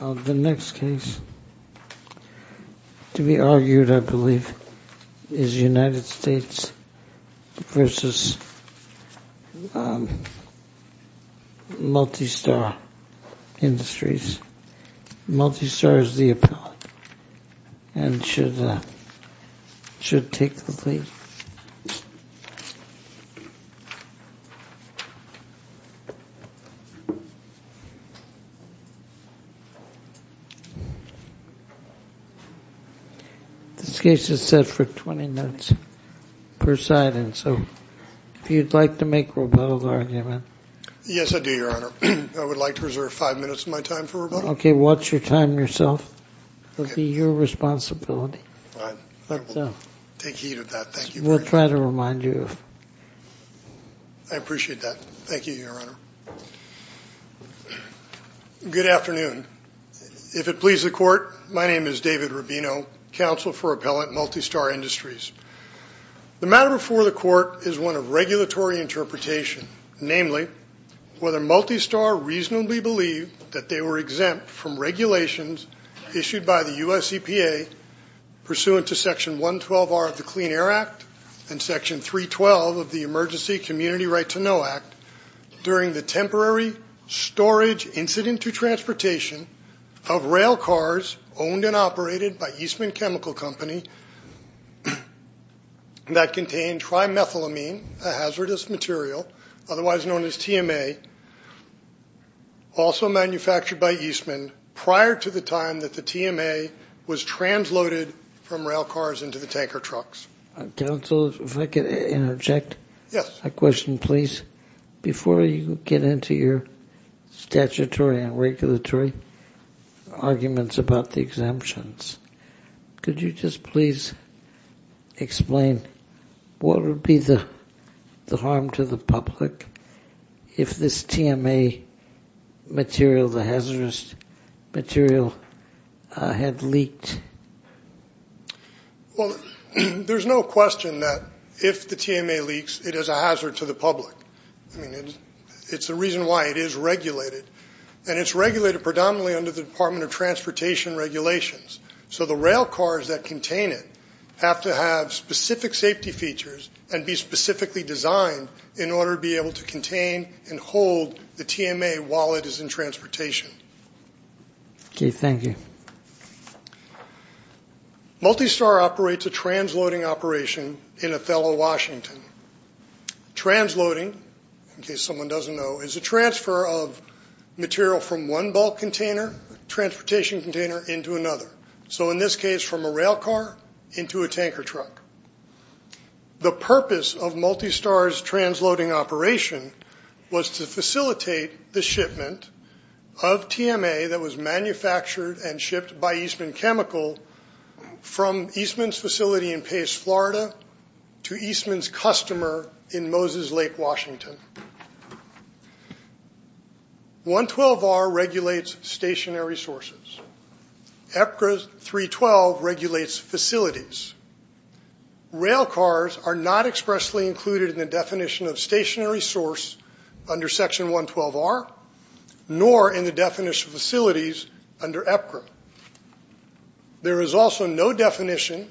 The next case to be argued, I believe, is United States v. Multistar Industries. This case is set for 20 minutes per side, and so if you'd like to make a rebuttal argument. Yes, I do, Your Honor. I would like to reserve five minutes of my time for rebuttal. Okay, watch your time yourself. It will be your responsibility. All right. I will take heed of that. Thank you very much. We'll try to remind you. I appreciate that. Thank you, Your Honor. Good afternoon. If it pleases the Court, my name is David Rubino, Counsel for Appellant, Multistar Industries. The matter before the Court is one of regulatory interpretation, namely, whether Multistar reasonably believed that they were exempt from regulations issued by the U.S. EPA pursuant to Section 112R of the Clean Air Act and Section 312 of the Emergency Community Right to Know Act during the temporary storage incident to transportation of rail cars owned and operated by Eastman Chemical Company that contained trimethylamine, a hazardous material, otherwise known as TMA, also manufactured by Eastman prior to the time that the TMA was transloaded from rail cars into the tanker trucks. Counsel, if I could interject. Yes. A question, please. Before you get into your statutory and regulatory arguments about the exemptions, could you just please explain what would be the harm to the public if this TMA material, the hazardous material, had leaked? Well, there's no question that if the TMA leaks, it is a hazard to the public. I mean, it's the reason why it is regulated. And it's regulated predominantly under the Department of Transportation regulations. So the rail cars that contain it have to have specific safety features and be specifically designed in order to be able to contain and hold the TMA while it is in transportation. Okay. Thank you. Multistar operates a transloading operation in Othello, Washington. Transloading, in case someone doesn't know, is a transfer of material from one bulk container, transportation container, into another. So in this case, from a rail car into a tanker truck. The purpose of Multistar's transloading operation was to facilitate the shipment of TMA that was manufactured and shipped by Eastman Chemical from Eastman's facility in Pace, Florida, to Eastman's customer in Moses Lake, Washington. 112R regulates stationary sources. EPCRA 312 regulates facilities. Rail cars are not expressly included in the definition of stationary source under Section 112R, nor in the definition of facilities under EPCRA. There is also no definition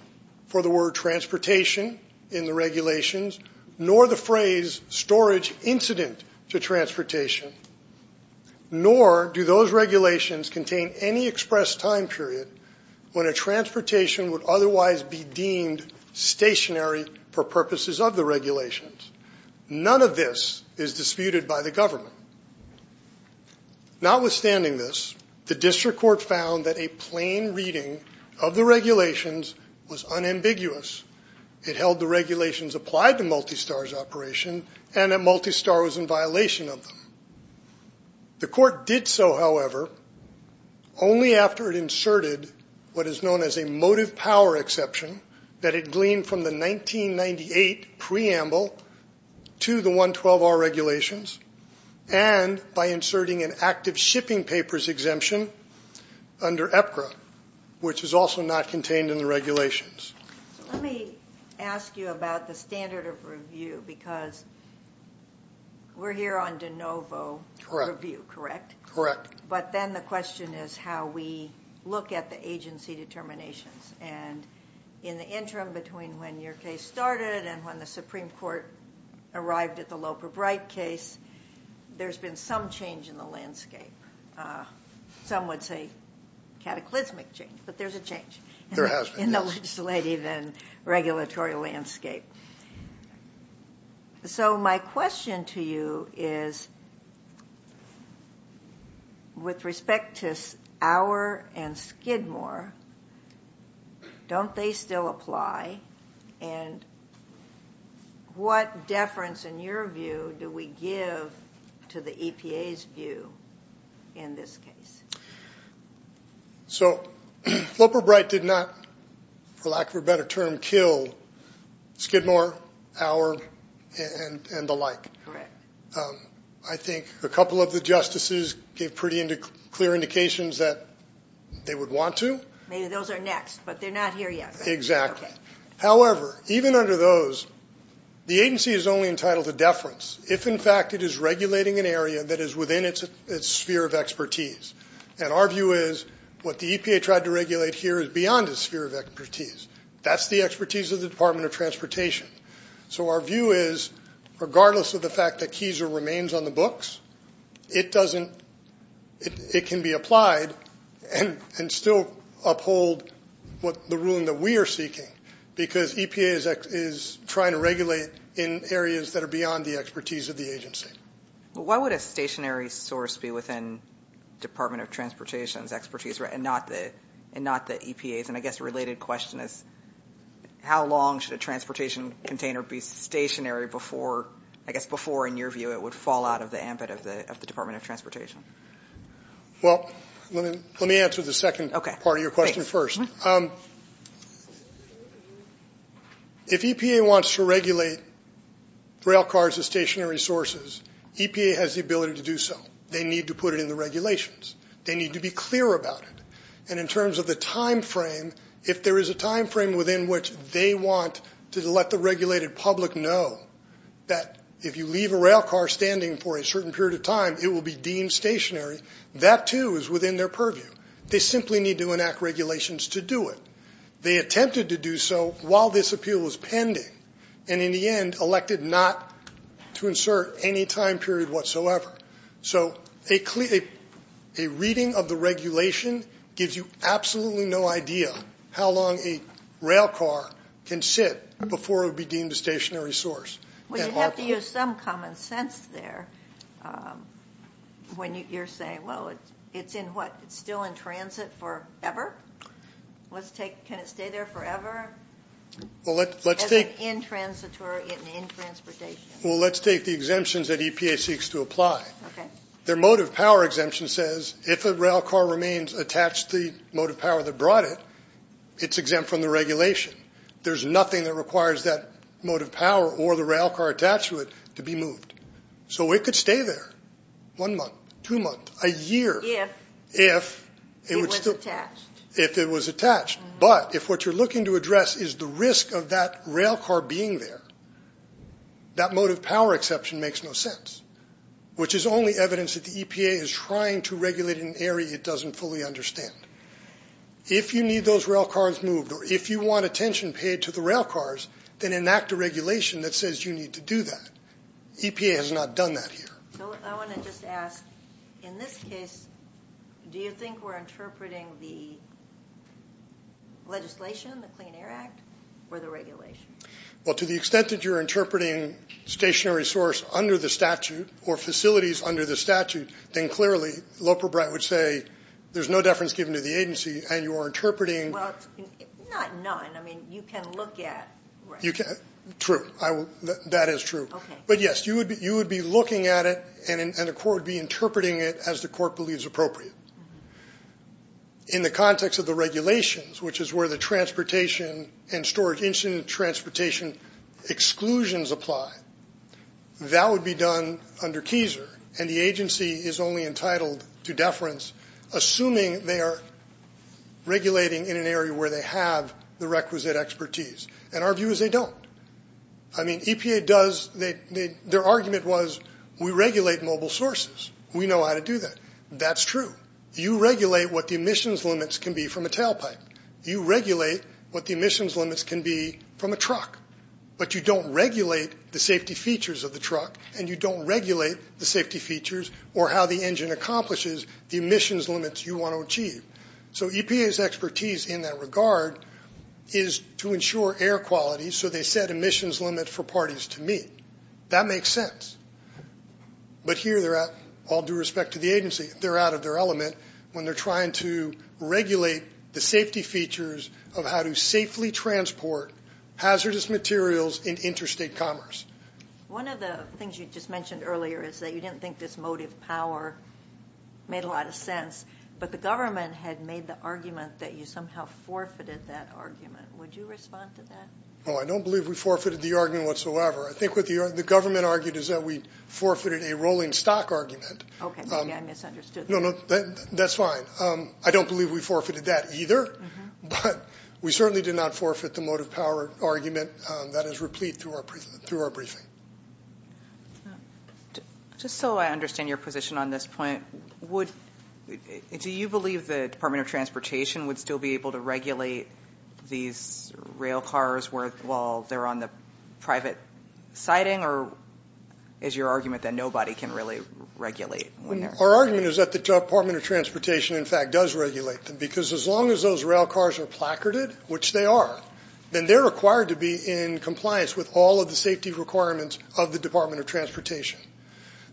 for the word transportation in the regulations, nor the phrase storage incident to transportation, nor do those regulations contain any expressed time period when a transportation would otherwise be deemed stationary for purposes of the regulations. None of this is disputed by the government. Notwithstanding this, the district court found that a plain reading of the regulations was unambiguous. It held the regulations applied to Multistar's operation and that Multistar was in violation of them. The court did so, however, only after it inserted what is known as a motive power exception that it gleaned from the 1998 preamble to the 112R regulations and by inserting an active shipping papers exemption under EPCRA, which is also not contained in the regulations. Let me ask you about the standard of review because we're here on de novo review, correct? But then the question is how we look at the agency determinations. And in the interim between when your case started and when the Supreme Court arrived at the Loper-Bright case, there's been some change in the landscape. Some would say cataclysmic change, but there's a change. There has been, yes. In the legislative and regulatory landscape. So my question to you is with respect to Auer and Skidmore, don't they still apply? And what deference in your view do we give to the EPA's view in this case? So Loper-Bright did not, for lack of a better term, kill Skidmore, Auer, and the like. Correct. I think a couple of the justices gave pretty clear indications that they would want to. Maybe those are next, but they're not here yet, right? Exactly. However, even under those, the agency is only entitled to deference if in fact it is regulating an area that is within its sphere of expertise. And our view is what the EPA tried to regulate here is beyond its sphere of expertise. That's the expertise of the Department of Transportation. So our view is regardless of the fact that Kieser remains on the books, it can be applied and still uphold the ruling that we are seeking because EPA is trying to regulate in areas that are beyond the expertise of the agency. Why would a stationary source be within Department of Transportation's expertise and not the EPA's? And I guess a related question is how long should a transportation container be stationary before, I guess before, in your view, it would fall out of the ambit of the Department of Transportation? Well, let me answer the second part of your question first. Okay. Thanks. If EPA wants to regulate railcars as stationary sources, EPA has the ability to do so. They need to put it in the regulations. They need to be clear about it. And in terms of the timeframe, if there is a timeframe within which they want to let the regulated public know that if you leave a railcar standing for a certain period of time, it will be deemed stationary, that too is within their purview. They simply need to enact regulations to do it. They attempted to do so while this appeal was pending and in the end elected not to insert any time period whatsoever. So a reading of the regulation gives you absolutely no idea how long a railcar can sit before it would be deemed a stationary source. Would you have to use some common sense there when you're saying, well, it's in what, it's still in transit forever? Can it stay there forever as an intransitor in transportation? Well, let's take the exemptions that EPA seeks to apply. Their motive power exemption says if a railcar remains attached to the motive power that brought it, it's exempt from the regulation. There's nothing that requires that motive power or the railcar attached to it to be moved. So it could stay there one month, two months, a year if it was attached. But if what you're looking to address is the risk of that railcar being there, that motive power exception makes no sense, which is only evidence that the EPA is trying to regulate an area it doesn't fully understand. If you need those railcars moved or if you want attention paid to the railcars, then enact a regulation that says you need to do that. EPA has not done that here. So I want to just ask, in this case, do you think we're interpreting the legislation, the Clean Air Act, or the regulation? Well, to the extent that you're interpreting stationary source under the statute or facilities under the statute, then clearly Loper-Bright would say there's no deference given to the agency and you are interpreting. Well, not none. I mean, you can look at. True. That is true. Okay. But, yes, you would be looking at it and the court would be interpreting it as the court believes appropriate. In the context of the regulations, which is where the transportation and storage engine transportation exclusions apply, that would be done under KESER, and the agency is only entitled to deference assuming they are regulating in an area where they have the requisite expertise. And our view is they don't. I mean, EPA does. Their argument was we regulate mobile sources. We know how to do that. That's true. But you regulate what the emissions limits can be from a tailpipe. You regulate what the emissions limits can be from a truck. But you don't regulate the safety features of the truck and you don't regulate the safety features or how the engine accomplishes the emissions limits you want to achieve. So EPA's expertise in that regard is to ensure air quality so they set emissions limits for parties to meet. That makes sense. But here, all due respect to the agency, they're out of their element when they're trying to regulate the safety features of how to safely transport hazardous materials in interstate commerce. One of the things you just mentioned earlier is that you didn't think this motive power made a lot of sense, but the government had made the argument that you somehow forfeited that argument. Would you respond to that? Oh, I don't believe we forfeited the argument whatsoever. I think what the government argued is that we forfeited a rolling stock argument. Okay, maybe I misunderstood that. No, no, that's fine. I don't believe we forfeited that either, but we certainly did not forfeit the motive power argument that is replete through our briefing. Just so I understand your position on this point, do you believe the Department of Transportation would still be able to regulate these rail cars while they're on the private siding, or is your argument that nobody can really regulate? Our argument is that the Department of Transportation, in fact, does regulate them, because as long as those rail cars are placarded, which they are, then they're required to be in compliance with all of the safety requirements of the Department of Transportation.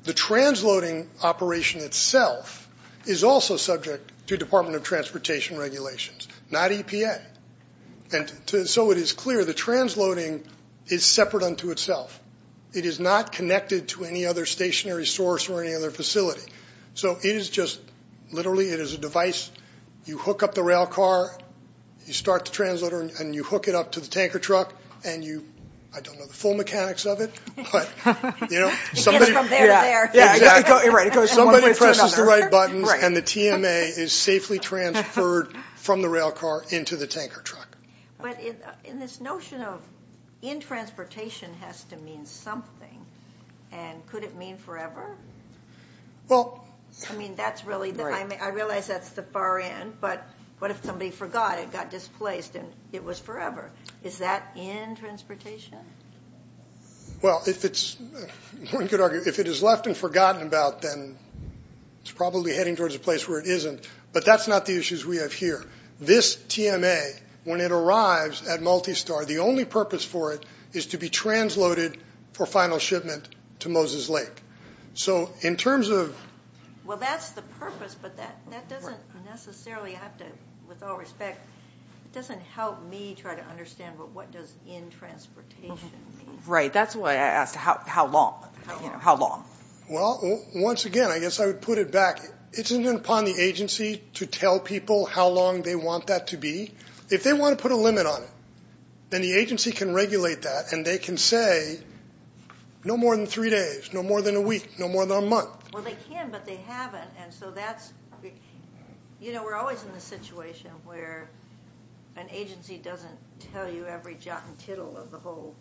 The transloading operation itself is also subject to Department of Transportation regulations, not EPN. So it is clear the transloading is separate unto itself. It is not connected to any other stationary source or any other facility. So it is just literally, it is a device. You hook up the rail car, you start the transloader, and you hook it up to the tanker truck, and you – I don't know the full mechanics of it, but, you know. It goes from there to there. Somebody presses the right buttons, and the TMA is safely transferred from the rail car into the tanker truck. But in this notion of in transportation has to mean something, and could it mean forever? Well – I mean, that's really the – I realize that's the far end, but what if somebody forgot and got displaced and it was forever? Is that in transportation? Well, if it's – one could argue if it is left and forgotten about, then it's probably heading towards a place where it isn't. But that's not the issues we have here. This TMA, when it arrives at Multistar, the only purpose for it is to be transloaded for final shipment to Moses Lake. So in terms of – Well, that's the purpose, but that doesn't necessarily have to – with all respect, it doesn't help me try to understand what does in transportation mean. Right. That's why I asked how long. How long? Well, once again, I guess I would put it back. It's not upon the agency to tell people how long they want that to be. If they want to put a limit on it, then the agency can regulate that, and they can say no more than three days, no more than a week, no more than a month. Well, they can, but they haven't, and so that's – You know, we're always in the situation where an agency doesn't tell you every jot and tittle of the whole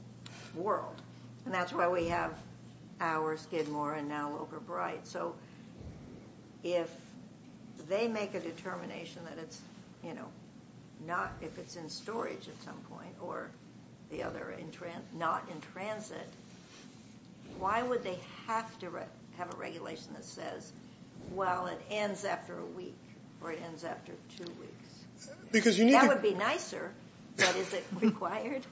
world, and that's why we have ours, Gidmore, and now Locor Bright. So if they make a determination that it's not – if it's in storage at some point or the other, not in transit, why would they have to have a regulation that says, well, it ends after a week or it ends after two weeks? Because you need to – That would be nicer, but is it required?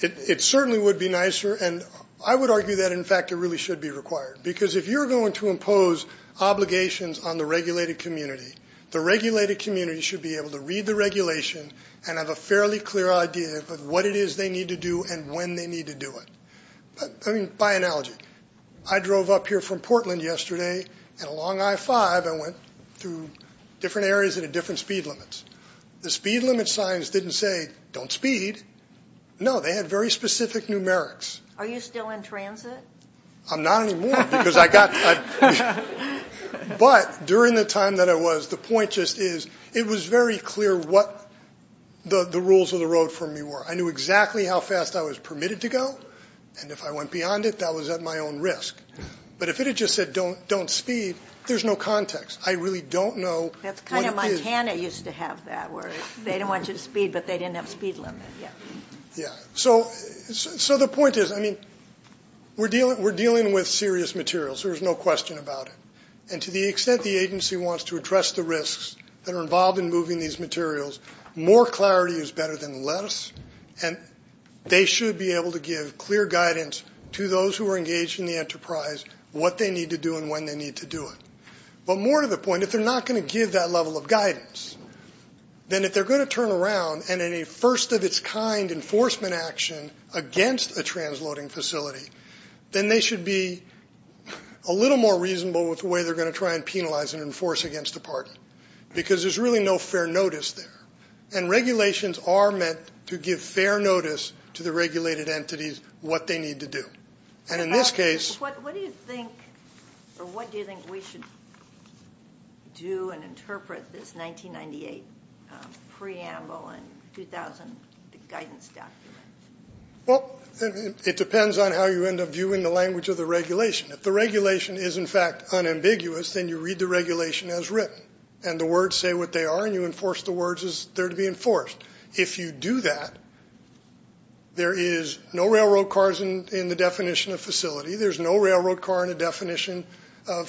It certainly would be nicer, and I would argue that, in fact, it really should be required because if you're going to impose obligations on the regulated community, the regulated community should be able to read the regulation and have a fairly clear idea of what it is they need to do and when they need to do it. I mean, by analogy, I drove up here from Portland yesterday, and along I-5 I went through different areas that had different speed limits. The speed limit signs didn't say, don't speed. No, they had very specific numerics. Are you still in transit? I'm not anymore because I got – But during the time that I was, the point just is it was very clear what the rules of the road for me were. I knew exactly how fast I was permitted to go, and if I went beyond it, that was at my own risk. But if it had just said, don't speed, there's no context. I really don't know what it is. That's kind of – Montana used to have that where they didn't want you to speed, but they didn't have a speed limit yet. Yeah. So the point is, I mean, we're dealing with serious materials. There's no question about it. And to the extent the agency wants to address the risks that are involved in moving these materials, more clarity is better than less, and they should be able to give clear guidance to those who are engaged in the enterprise, what they need to do and when they need to do it. But more to the point, if they're not going to give that level of guidance, then if they're going to turn around and in a first-of-its-kind enforcement action against a transloading facility, then they should be a little more reasonable with the way they're going to try and penalize and enforce against the party because there's really no fair notice there. And regulations are meant to give fair notice to the regulated entities what they need to do. And in this case – What do you think – or what do you think we should do and interpret this 1998 preamble and 2000 guidance document? Well, it depends on how you end up viewing the language of the regulation. If the regulation is, in fact, unambiguous, then you read the regulation as written, and the words say what they are and you enforce the words as they're to be enforced. If you do that, there is no railroad cars in the definition of facility. There's no railroad car in the definition of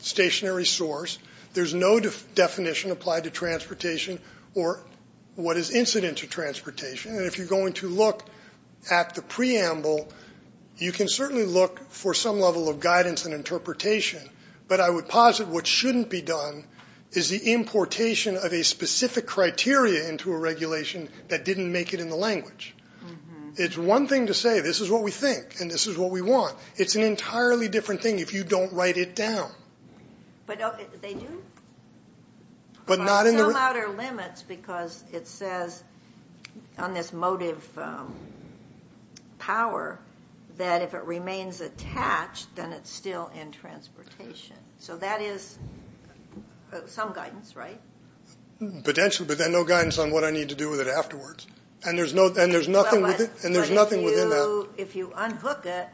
stationary source. There's no definition applied to transportation or what is incident to transportation. And if you're going to look at the preamble, you can certainly look for some level of guidance and interpretation. But I would posit what shouldn't be done is the importation of a specific criteria into a regulation that didn't make it in the language. It's one thing to say this is what we think and this is what we want. It's an entirely different thing if you don't write it down. But they do? By some outer limits because it says on this motive power that if it remains attached, then it's still in transportation. So that is some guidance, right? Potentially, but then no guidance on what I need to do with it afterwards. And there's nothing within that. If you unhook it,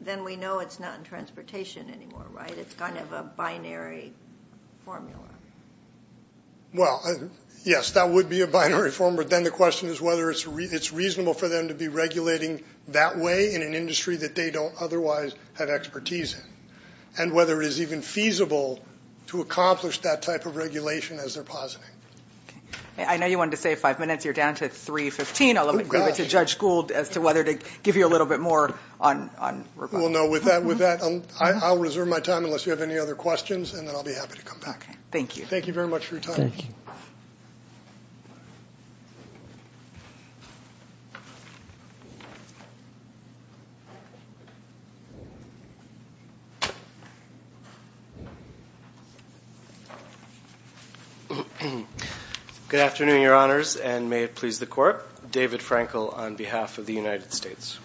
then we know it's not in transportation anymore, right? It's kind of a binary formula. Well, yes, that would be a binary formula. Then the question is whether it's reasonable for them to be regulating that way in an industry that they don't otherwise have expertise in and whether it is even feasible to accomplish that type of regulation as they're positing. I know you wanted to save five minutes. You're down to 3.15. I'll leave it to Judge Gould as to whether to give you a little bit more on rebuttal. Well, no, with that, I'll reserve my time unless you have any other questions, and then I'll be happy to come back. Thank you. Thank you very much for your time. Good afternoon, Your Honors, and may it please the Court. David Frankel on behalf of the United States.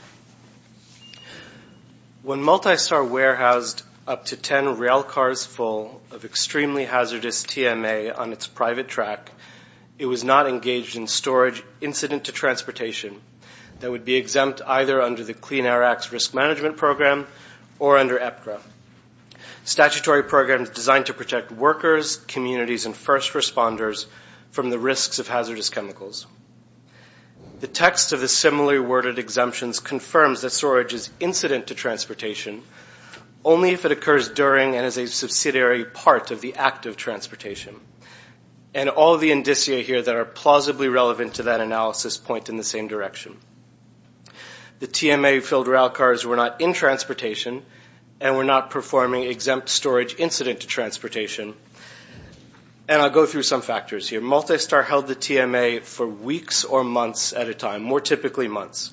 When Multistar warehoused up to ten railcars full of extremely hazardous TMA on its private track, it was not engaged in storage incident to transportation that would be exempt either under the Clean Air Act's Risk Management Program or under EPCRA, statutory programs designed to protect workers, communities, and first responders from the risks of hazardous chemicals. The text of the similarly worded exemptions confirms that storage is incident to transportation only if it occurs during and is a subsidiary part of the act of transportation, and all the indicia here that are plausibly relevant to that analysis point in the same direction. The TMA-filled railcars were not in transportation and were not performing exempt storage incident to transportation, and I'll go through some factors here. Multistar held the TMA for weeks or months at a time, more typically months.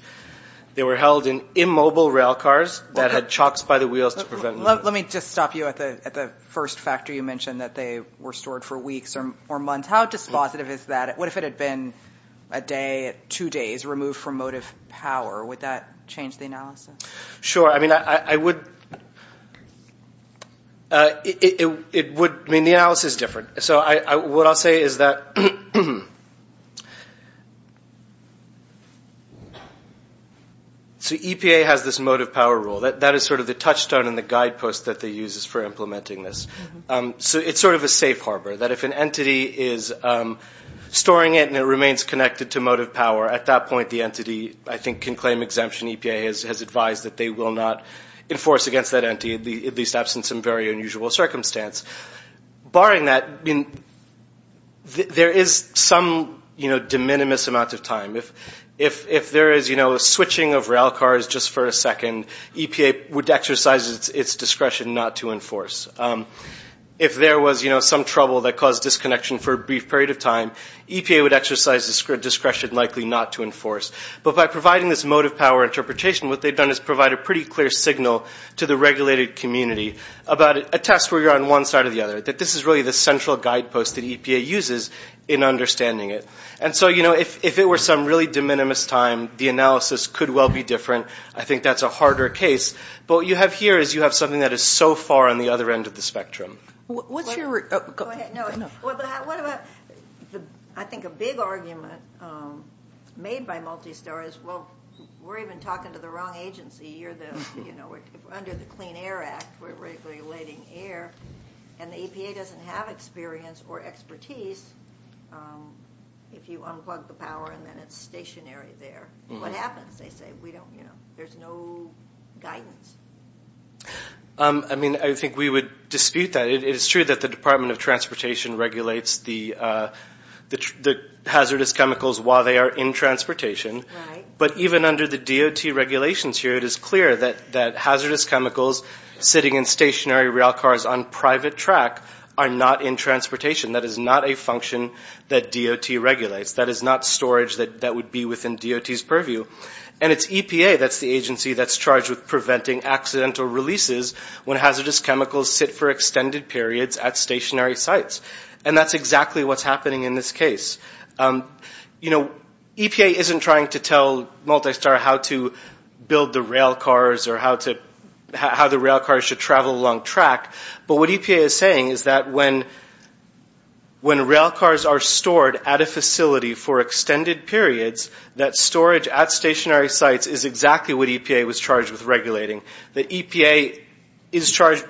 They were held in immobile railcars that had chocks by the wheels to prevent movement. Let me just stop you at the first factor. You mentioned that they were stored for weeks or months. How dispositive is that? What if it had been a day, two days, removed from motive power? Would that change the analysis? Sure. I mean, the analysis is different. What I'll say is that EPA has this motive power rule. That is sort of the touchstone and the guidepost that they use for implementing this. It's sort of a safe harbor, that if an entity is storing it and it remains connected to motive power, at that point the entity, I think, can claim exemption. EPA has advised that they will not enforce against that entity, at least absent some very unusual circumstance. Barring that, there is some de minimis amount of time. If there is a switching of railcars just for a second, EPA would exercise its discretion not to enforce. If there was some trouble that caused disconnection for a brief period of time, EPA would exercise its discretion likely not to enforce. But by providing this motive power interpretation, what they've done is provide a pretty clear signal to the regulated community about a test where you're on one side or the other, that this is really the central guidepost that EPA uses in understanding it. And so, you know, if it were some really de minimis time, the analysis could well be different. I think that's a harder case. But what you have here is you have something that is so far on the other end of the spectrum. Go ahead. I think a big argument made by Multistar is, well, we're even talking to the wrong agency. You know, we're under the Clean Air Act. We're regulating air. And the EPA doesn't have experience or expertise if you unplug the power and then it's stationary there. What happens? They say, you know, there's no guidance. I mean, I think we would dispute that. It is true that the Department of Transportation regulates the hazardous chemicals while they are in transportation. But even under the DOT regulations here, it is clear that hazardous chemicals sitting in stationary rail cars on private track are not in transportation. That is not a function that DOT regulates. That is not storage that would be within DOT's purview. And it's EPA that's the agency that's charged with preventing accidental releases when hazardous chemicals sit for extended periods at stationary sites. And that's exactly what's happening in this case. You know, EPA isn't trying to tell Multistar how to build the rail cars or how the rail cars should travel along track. But what EPA is saying is that when rail cars are stored at a facility for extended periods, that storage at stationary sites is exactly what EPA was charged with regulating. The EPA is charged,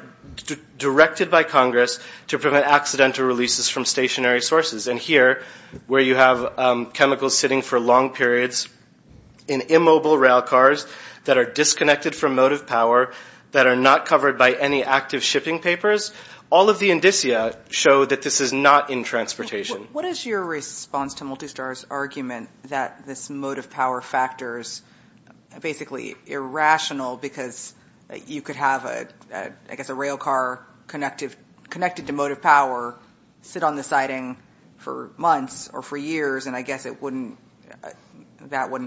directed by Congress, to prevent accidental releases from stationary sources. And here, where you have chemicals sitting for long periods in immobile rail cars that are disconnected from mode of power, that are not covered by any active shipping papers, all of the indicia show that this is not in transportation. What is your response to Multistar's argument that this mode of power factor is basically irrational because you could have, I guess, a rail car connected to mode of power, sit on the siding for months or for years, and I guess that wouldn't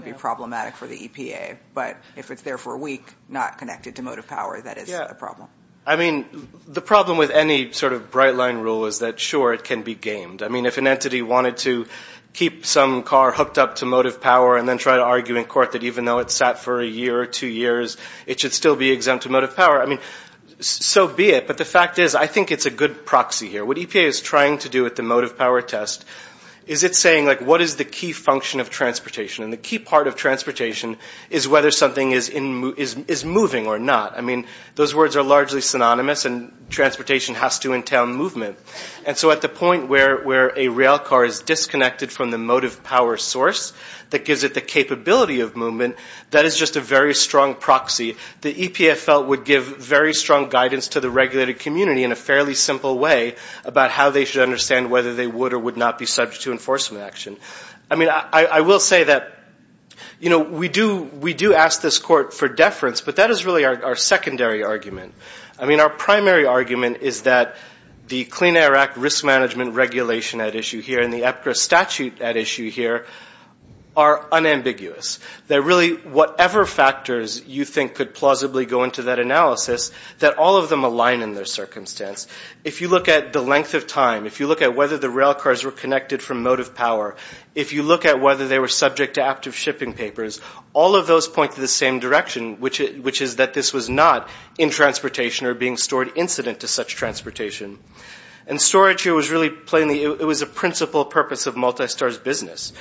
be problematic for the EPA. But if it's there for a week, not connected to mode of power, that is a problem. I mean, the problem with any sort of bright-line rule is that, sure, it can be gamed. I mean, if an entity wanted to keep some car hooked up to mode of power and then try to argue in court that even though it sat for a year or two years, it should still be exempt to mode of power, I mean, so be it. But the fact is, I think it's a good proxy here. What EPA is trying to do at the mode of power test is it's saying, like, what is the key function of transportation? And the key part of transportation is whether something is moving or not. I mean, those words are largely synonymous, and transportation has to entail movement. And so at the point where a rail car is disconnected from the mode of power source that gives it the capability of movement, that is just a very strong proxy. The EPA felt would give very strong guidance to the regulated community in a fairly simple way about how they should understand whether they would or would not be subject to enforcement action. I mean, I will say that, you know, we do ask this court for deference, but that is really our secondary argument. I mean, our primary argument is that the Clean Air Act risk management regulation at issue here and the EPCRA statute at issue here are unambiguous. They're really whatever factors you think could plausibly go into that analysis, that all of them align in their circumstance. If you look at the length of time, if you look at whether the rail cars were connected from mode of power, if you look at whether they were subject to active shipping papers, all of those point to the same direction, which is that this was not in transportation or being stored incident to such transportation. And storage here was really plainly, it was a principal purpose of Multistar's business.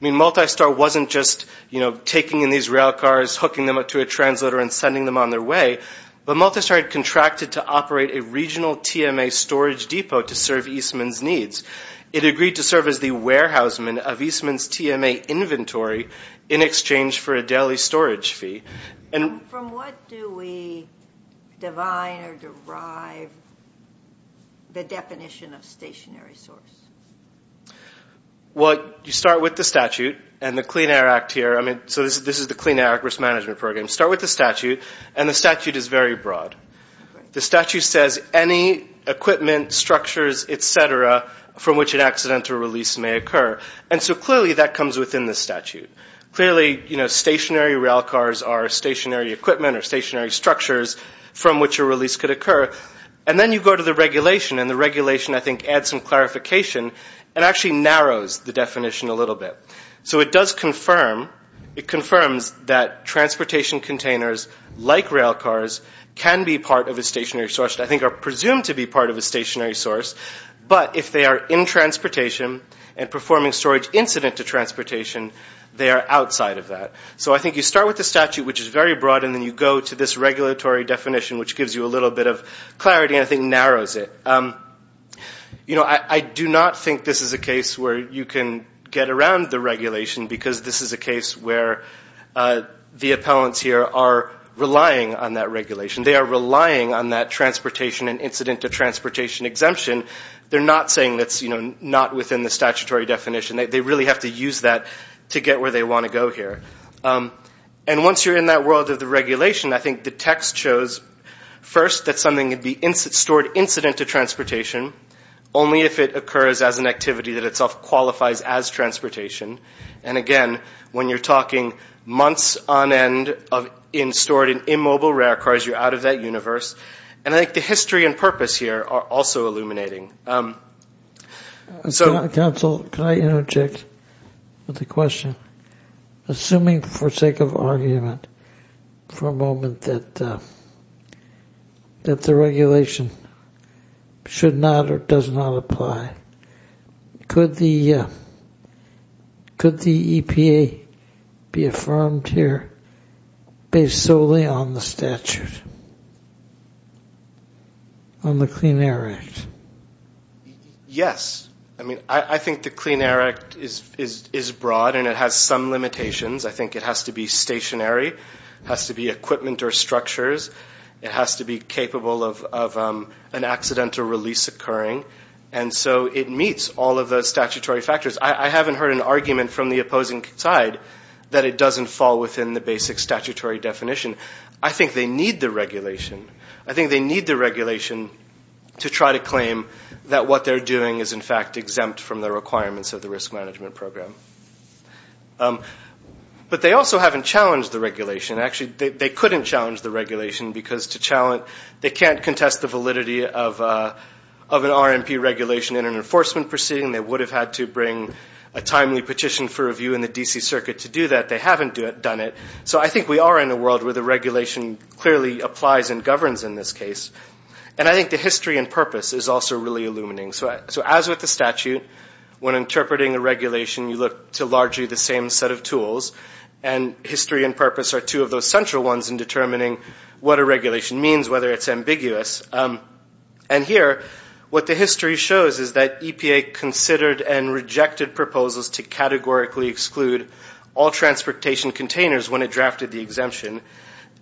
I mean, Multistar wasn't just, you know, taking in these rail cars, hooking them up to a translator and sending them on their way, but Multistar had contracted to operate a regional TMA storage depot to serve Eastman's needs. It agreed to serve as the warehouseman of Eastman's TMA inventory in exchange for a daily storage fee. And from what do we divine or derive the definition of stationary source? Well, you start with the statute and the Clean Air Act here. I mean, so this is the Clean Air Act risk management program. Start with the statute, and the statute is very broad. The statute says any equipment, structures, et cetera, from which an accidental release may occur. And so clearly that comes within the statute. Clearly, you know, stationary rail cars are stationary equipment or stationary structures from which a release could occur. And then you go to the regulation, and the regulation, I think, adds some clarification and actually narrows the definition a little bit. So it does confirm, it confirms that transportation containers like rail cars can be part of a stationary source, I think are presumed to be part of a stationary source, but if they are in transportation and performing storage incident to transportation, they are outside of that. So I think you start with the statute, which is very broad, and then you go to this regulatory definition, which gives you a little bit of clarity and I think narrows it. You know, I do not think this is a case where you can get around the regulation, because this is a case where the appellants here are relying on that regulation. They are relying on that transportation and incident to transportation exemption. They're not saying that's, you know, not within the statutory definition. They really have to use that to get where they want to go here. And once you're in that world of the regulation, I think the text shows, first, that something can be stored incident to transportation only if it occurs as an activity that itself qualifies as transportation. And, again, when you're talking months on end stored in immobile rail cars, you're out of that universe. And I think the history and purpose here are also illuminating. Counsel, can I interject with a question? Assuming for sake of argument for a moment that the regulation should not or does not apply, could the EPA be affirmed here based solely on the statute, on the Clean Air Act? Yes. I mean, I think the Clean Air Act is broad and it has some limitations. I think it has to be stationary. It has to be equipment or structures. It has to be capable of an accidental release occurring. And so it meets all of the statutory factors. I haven't heard an argument from the opposing side that it doesn't fall within the basic statutory definition. I think they need the regulation. I think they need the regulation to try to claim that what they're doing is, in fact, exempt from the requirements of the risk management program. But they also haven't challenged the regulation. Actually, they couldn't challenge the regulation because they can't contest the validity of an RMP regulation in an enforcement proceeding. They would have had to bring a timely petition for review in the D.C. Circuit to do that. They haven't done it. So I think we are in a world where the regulation clearly applies and governs in this case. And I think the history and purpose is also really illuminating. So as with the statute, when interpreting a regulation, you look to largely the same set of tools. And history and purpose are two of those central ones in determining what a regulation means, whether it's ambiguous. And here, what the history shows is that EPA considered and rejected proposals to categorically exclude all transportation containers when it drafted the exemption.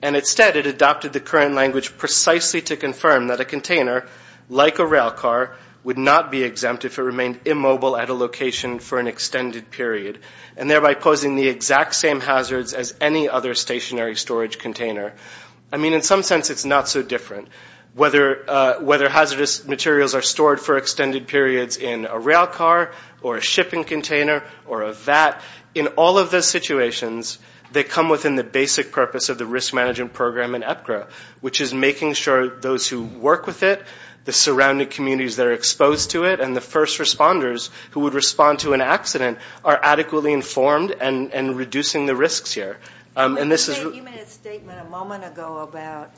And instead, it adopted the current language precisely to confirm that a container, like a rail car, would not be exempt if it remained immobile at a location for an extended period, and thereby posing the exact same hazards as any other stationary storage container. I mean, in some sense, it's not so different. Whether hazardous materials are stored for extended periods in a rail car or a shipping container or a vat, in all of those situations, they come within the basic purpose of the risk management program in EPGRA, which is making sure those who work with it, the surrounding communities that are exposed to it, and the first responders who would respond to an accident are adequately informed and reducing the risks here. And this is – You made a statement a moment ago about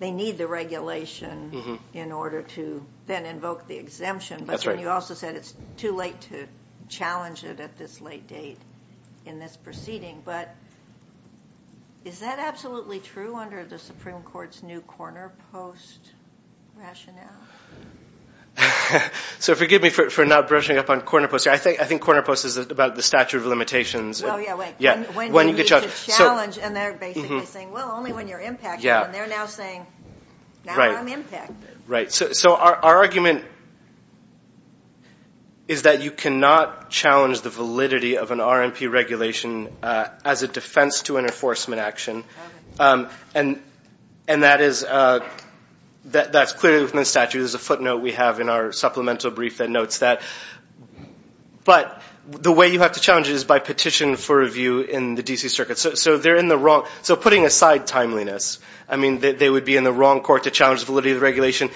they need the regulation in order to then invoke the exemption. That's right. But you also said it's too late to challenge it at this late date in this proceeding. But is that absolutely true under the Supreme Court's new corner post rationale? So forgive me for not brushing up on corner post. I think corner post is about the statute of limitations. Oh, yeah, wait. When you get challenged. When you get challenged. And they're basically saying, well, only when you're impacted. Yeah. And they're now saying, now I'm impacted. Right. So our argument is that you cannot challenge the validity of an RMP regulation as a defense to an enforcement action. And that is – that's clearly from the statute. There's a footnote we have in our supplemental brief that notes that. But the way you have to challenge it is by petition for review in the D.C. Circuit. So they're in the wrong – so putting aside timeliness, I mean, they would be in the wrong court to challenge the validity of the regulation.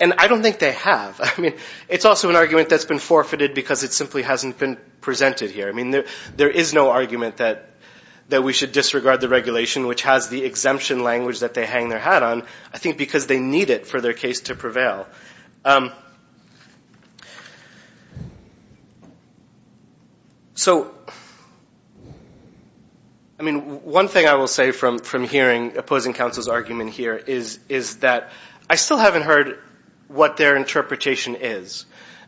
And I don't think they have. I mean, it's also an argument that's been forfeited because it simply hasn't been presented here. I mean, there is no argument that we should disregard the regulation, which has the exemption language that they hang their hat on, I think because they need it for their case to prevail. So, I mean, one thing I will say from hearing opposing counsel's argument here is that I still haven't heard what their interpretation is.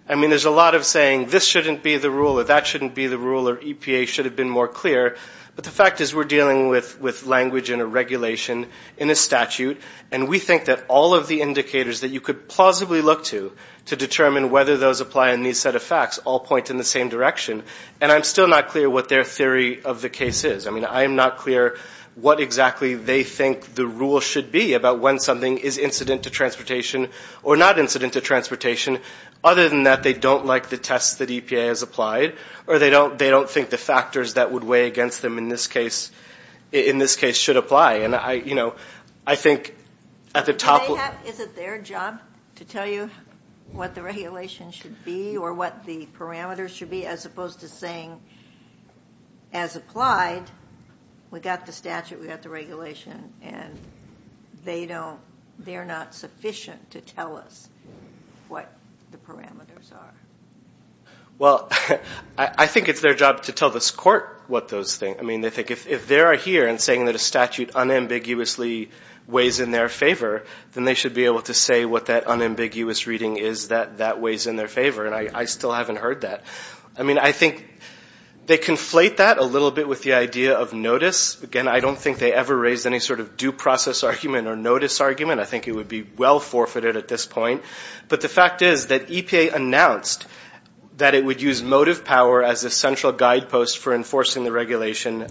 I mean, there's a lot of saying this shouldn't be the rule or that shouldn't be the rule or EPA should have been more clear. But the fact is we're dealing with language in a regulation in a statute. And we think that all of the indicators that you could plausibly look to to determine whether those apply in these set of facts all point in the same direction. And I'm still not clear what their theory of the case is. I mean, I am not clear what exactly they think the rule should be about when something is incident to transportation or not incident to transportation. Other than that, they don't like the tests that EPA has applied or they don't think the factors that would weigh against them in this case should apply. And, you know, I think at the top... Is it their job to tell you what the regulation should be or what the parameters should be as opposed to saying as applied, we got the statute, we got the regulation, and they're not sufficient to tell us what the parameters are? Well, I think it's their job to tell this court what those things... I mean, they think if they're here and saying that a statute unambiguously weighs in their favor, then they should be able to say what that unambiguous reading is that that weighs in their favor. And I still haven't heard that. I mean, I think they conflate that a little bit with the idea of notice. Again, I don't think they ever raised any sort of due process argument or notice argument. I think it would be well forfeited at this point. But the fact is that EPA announced that it would use motive power as a central guidepost for enforcing the regulation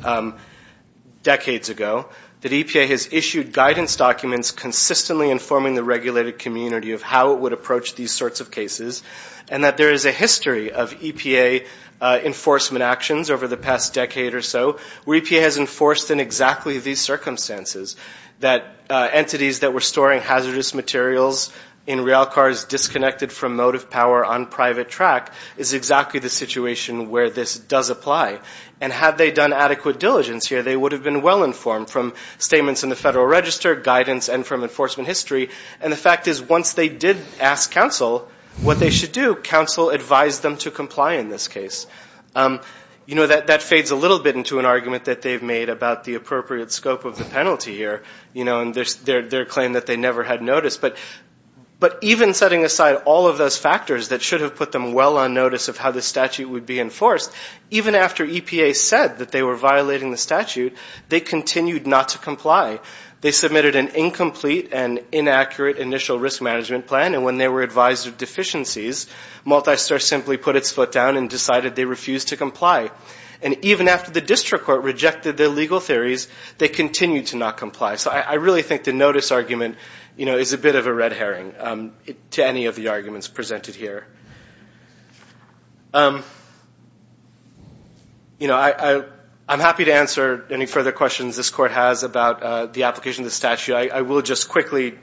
decades ago, that EPA has issued guidance documents consistently informing the regulated community of how it would approach these sorts of cases, and that there is a history of EPA enforcement actions over the past decade or so where EPA has enforced in exactly these circumstances that entities that were storing hazardous materials in rail cars disconnected from motive power on private track is exactly the situation where this does apply. And had they done adequate diligence here, they would have been well-informed from statements in the Federal Register, guidance, and from enforcement history. And the fact is, once they did ask counsel what they should do, counsel advised them to comply in this case. You know, that fades a little bit into an argument that they've made about the appropriate scope of the penalty here, and their claim that they never had notice. But even setting aside all of those factors that should have put them well on notice of how the statute would be enforced, even after EPA said that they were violating the statute, they continued not to comply. They submitted an incomplete and inaccurate initial risk management plan, and when they were advised of deficiencies, Multistar simply put its foot down and decided they refused to comply. And even after the district court rejected their legal theories, they continued to not comply. So I really think the notice argument is a bit of a red herring to any of the arguments presented here. You know, I'm happy to answer any further questions this Court has about the application of the statute. I will just quickly,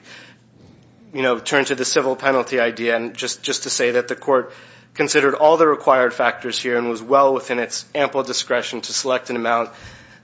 you know, turn to the civil penalty idea, and just to say that the Court considered all the required factors here and was well within its ample discretion to select an amount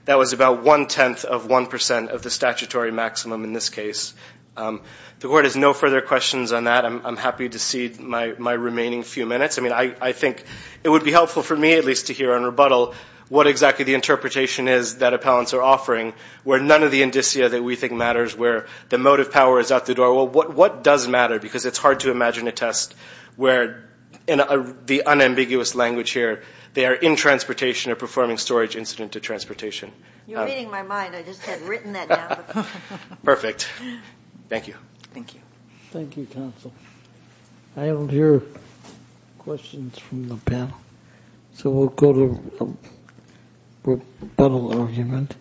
that was about one-tenth of one percent of the statutory maximum in this case. The Court has no further questions on that. I'm happy to cede my remaining few minutes. I mean, I think it would be helpful for me at least to hear in rebuttal what exactly the interpretation is that appellants are offering, where none of the indicia that we think matters, where the motive power is out the door. What does matter? Because it's hard to imagine a test where, in the unambiguous language here, they are in transportation or performing storage incident to transportation. You're reading my mind. I just had written that down. Perfect. Thank you. Thank you. Thank you, counsel. I don't hear questions from the panel. So we'll go to rebuttal argument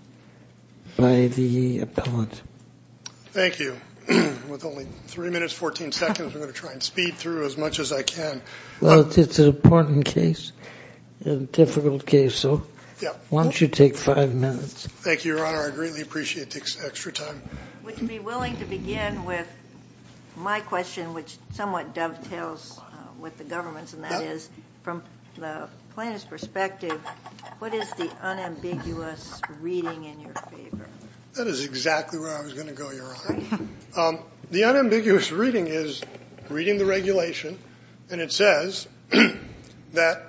by the appellant. Thank you. With only three minutes, 14 seconds, I'm going to try and speed through as much as I can. Well, it's an important case, a difficult case, so why don't you take five minutes? Thank you, Your Honor. I greatly appreciate the extra time. I would be willing to begin with my question, which somewhat dovetails with the government's, and that is from the plaintiff's perspective, what is the unambiguous reading in your favor? That is exactly where I was going to go, Your Honor. The unambiguous reading is reading the regulation, and it says that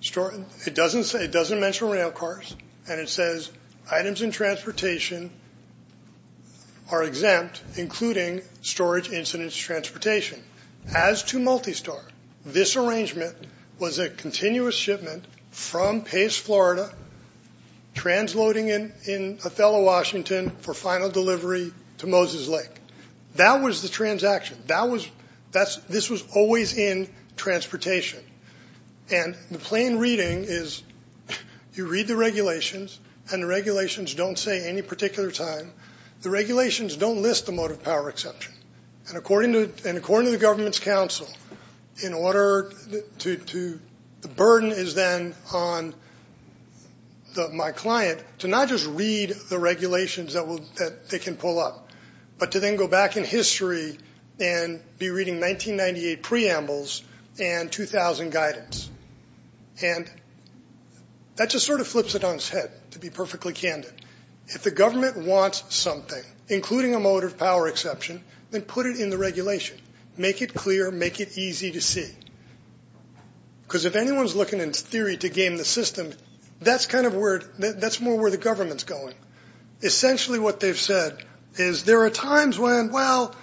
it doesn't mention rail cars, and it says items in transportation are exempt, including storage incidents transportation. As to multi-star, this arrangement was a continuous shipment from Pace, Florida, transloading in Othello, Washington, for final delivery to Moses Lake. That was the transaction. This was always in transportation. And the plain reading is you read the regulations, and the regulations don't say any particular time. The regulations don't list the mode of power exception, and according to the government's counsel, the burden is then on my client to not just read the regulations that they can pull up, but to then go back in history and be reading 1998 preambles and 2000 guidance. And that just sort of flips it on its head, to be perfectly candid. If the government wants something, including a mode of power exception, then put it in the regulation. Make it clear. Make it easy to see, because if anyone's looking in theory to game the system, that's more where the government's going. Essentially what they've said is there are times when, well,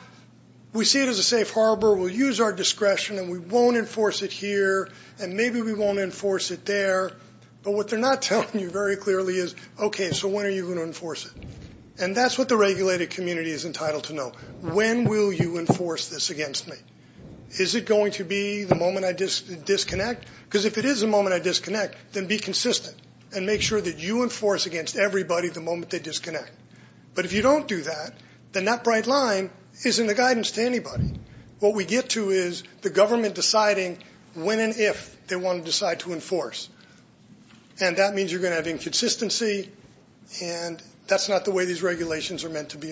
we see it as a safe harbor. We'll use our discretion, and we won't enforce it here, and maybe we won't enforce it there. But what they're not telling you very clearly is, okay, so when are you going to enforce it? And that's what the regulated community is entitled to know. When will you enforce this against me? Is it going to be the moment I disconnect? Because if it is the moment I disconnect, then be consistent and make sure that you enforce against everybody the moment they disconnect. But if you don't do that, then that bright line isn't the guidance to anybody. What we get to is the government deciding when and if they want to decide to enforce, and that means you're going to have inconsistency, and that's not the way these regulations are meant to be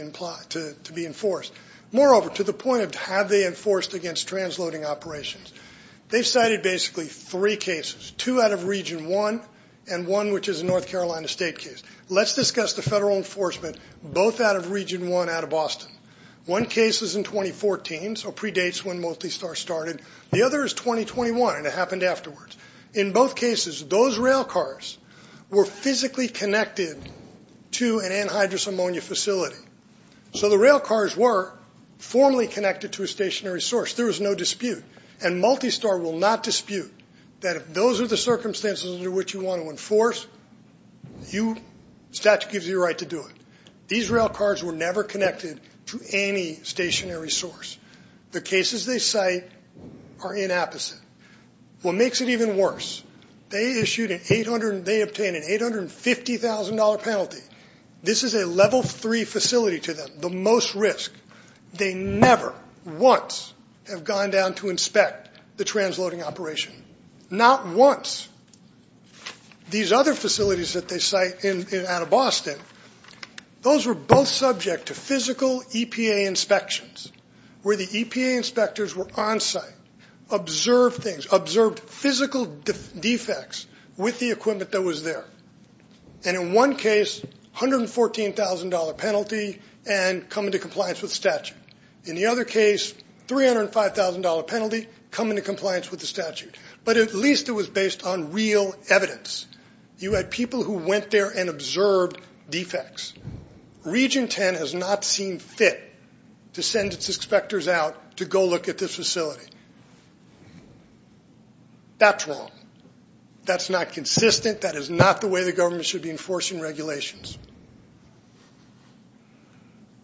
enforced. Moreover, to the point of have they enforced against transloading operations, they've cited basically three cases, two out of Region 1 and one which is a North Carolina state case. Let's discuss the federal enforcement, both out of Region 1 out of Boston. One case is in 2014, so predates when Multistar started. The other is 2021, and it happened afterwards. In both cases, those railcars were physically connected to an anhydrous ammonia facility. So the railcars were formally connected to a stationary source. There was no dispute, and Multistar will not dispute that if those are the circumstances under which you want to enforce, statute gives you the right to do it. These railcars were never connected to any stationary source. The cases they cite are inapposite. What makes it even worse, they obtained an $850,000 penalty. This is a level three facility to them, the most risk. They never once have gone down to inspect the transloading operation, not once. These other facilities that they cite out of Boston, those were both subject to physical EPA inspections where the EPA inspectors were on site, observed things, observed physical defects with the equipment that was there. And in one case, $114,000 penalty and come into compliance with statute. In the other case, $305,000 penalty, come into compliance with the statute. But at least it was based on real evidence. You had people who went there and observed defects. Region 10 has not seen fit to send its inspectors out to go look at this facility. That's wrong. That's not consistent. That is not the way the government should be enforcing regulations.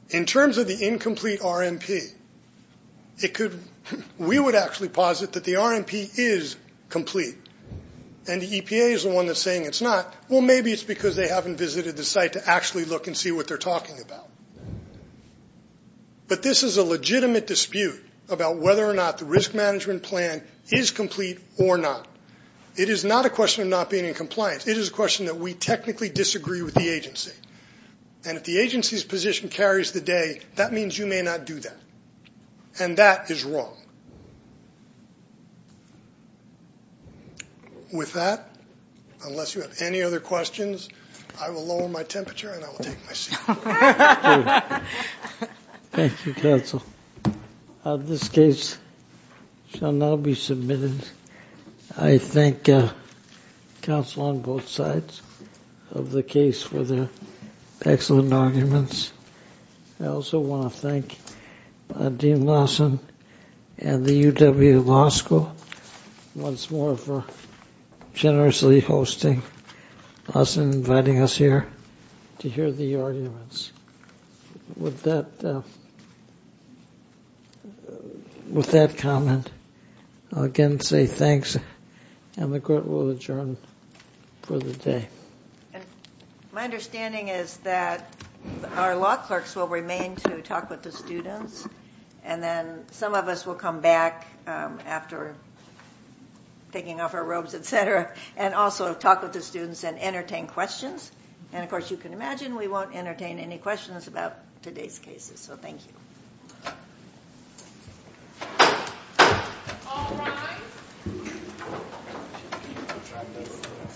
In terms of the incomplete RMP, we would actually posit that the RMP is complete. And the EPA is the one that's saying it's not. Well, maybe it's because they haven't visited the site to actually look and see what they're talking about. But this is a legitimate dispute about whether or not the risk management plan is complete or not. It is not a question of not being in compliance. It is a question that we technically disagree with the agency. And if the agency's position carries the day, that means you may not do that. And that is wrong. With that, unless you have any other questions, I will lower my temperature and I will take my seat. Thank you, counsel. This case shall now be submitted. I thank counsel on both sides of the case for their excellent arguments. I also want to thank Dean Lawson and the UW Law School once more for generously hosting. Lawson inviting us here to hear the arguments. With that comment, I'll again say thanks. And the court will adjourn for the day. My understanding is that our law clerks will remain to talk with the students. And then some of us will come back after taking off our robes, etc., and also talk with the students and entertain questions. And, of course, you can imagine we won't entertain any questions about today's cases. So thank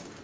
you.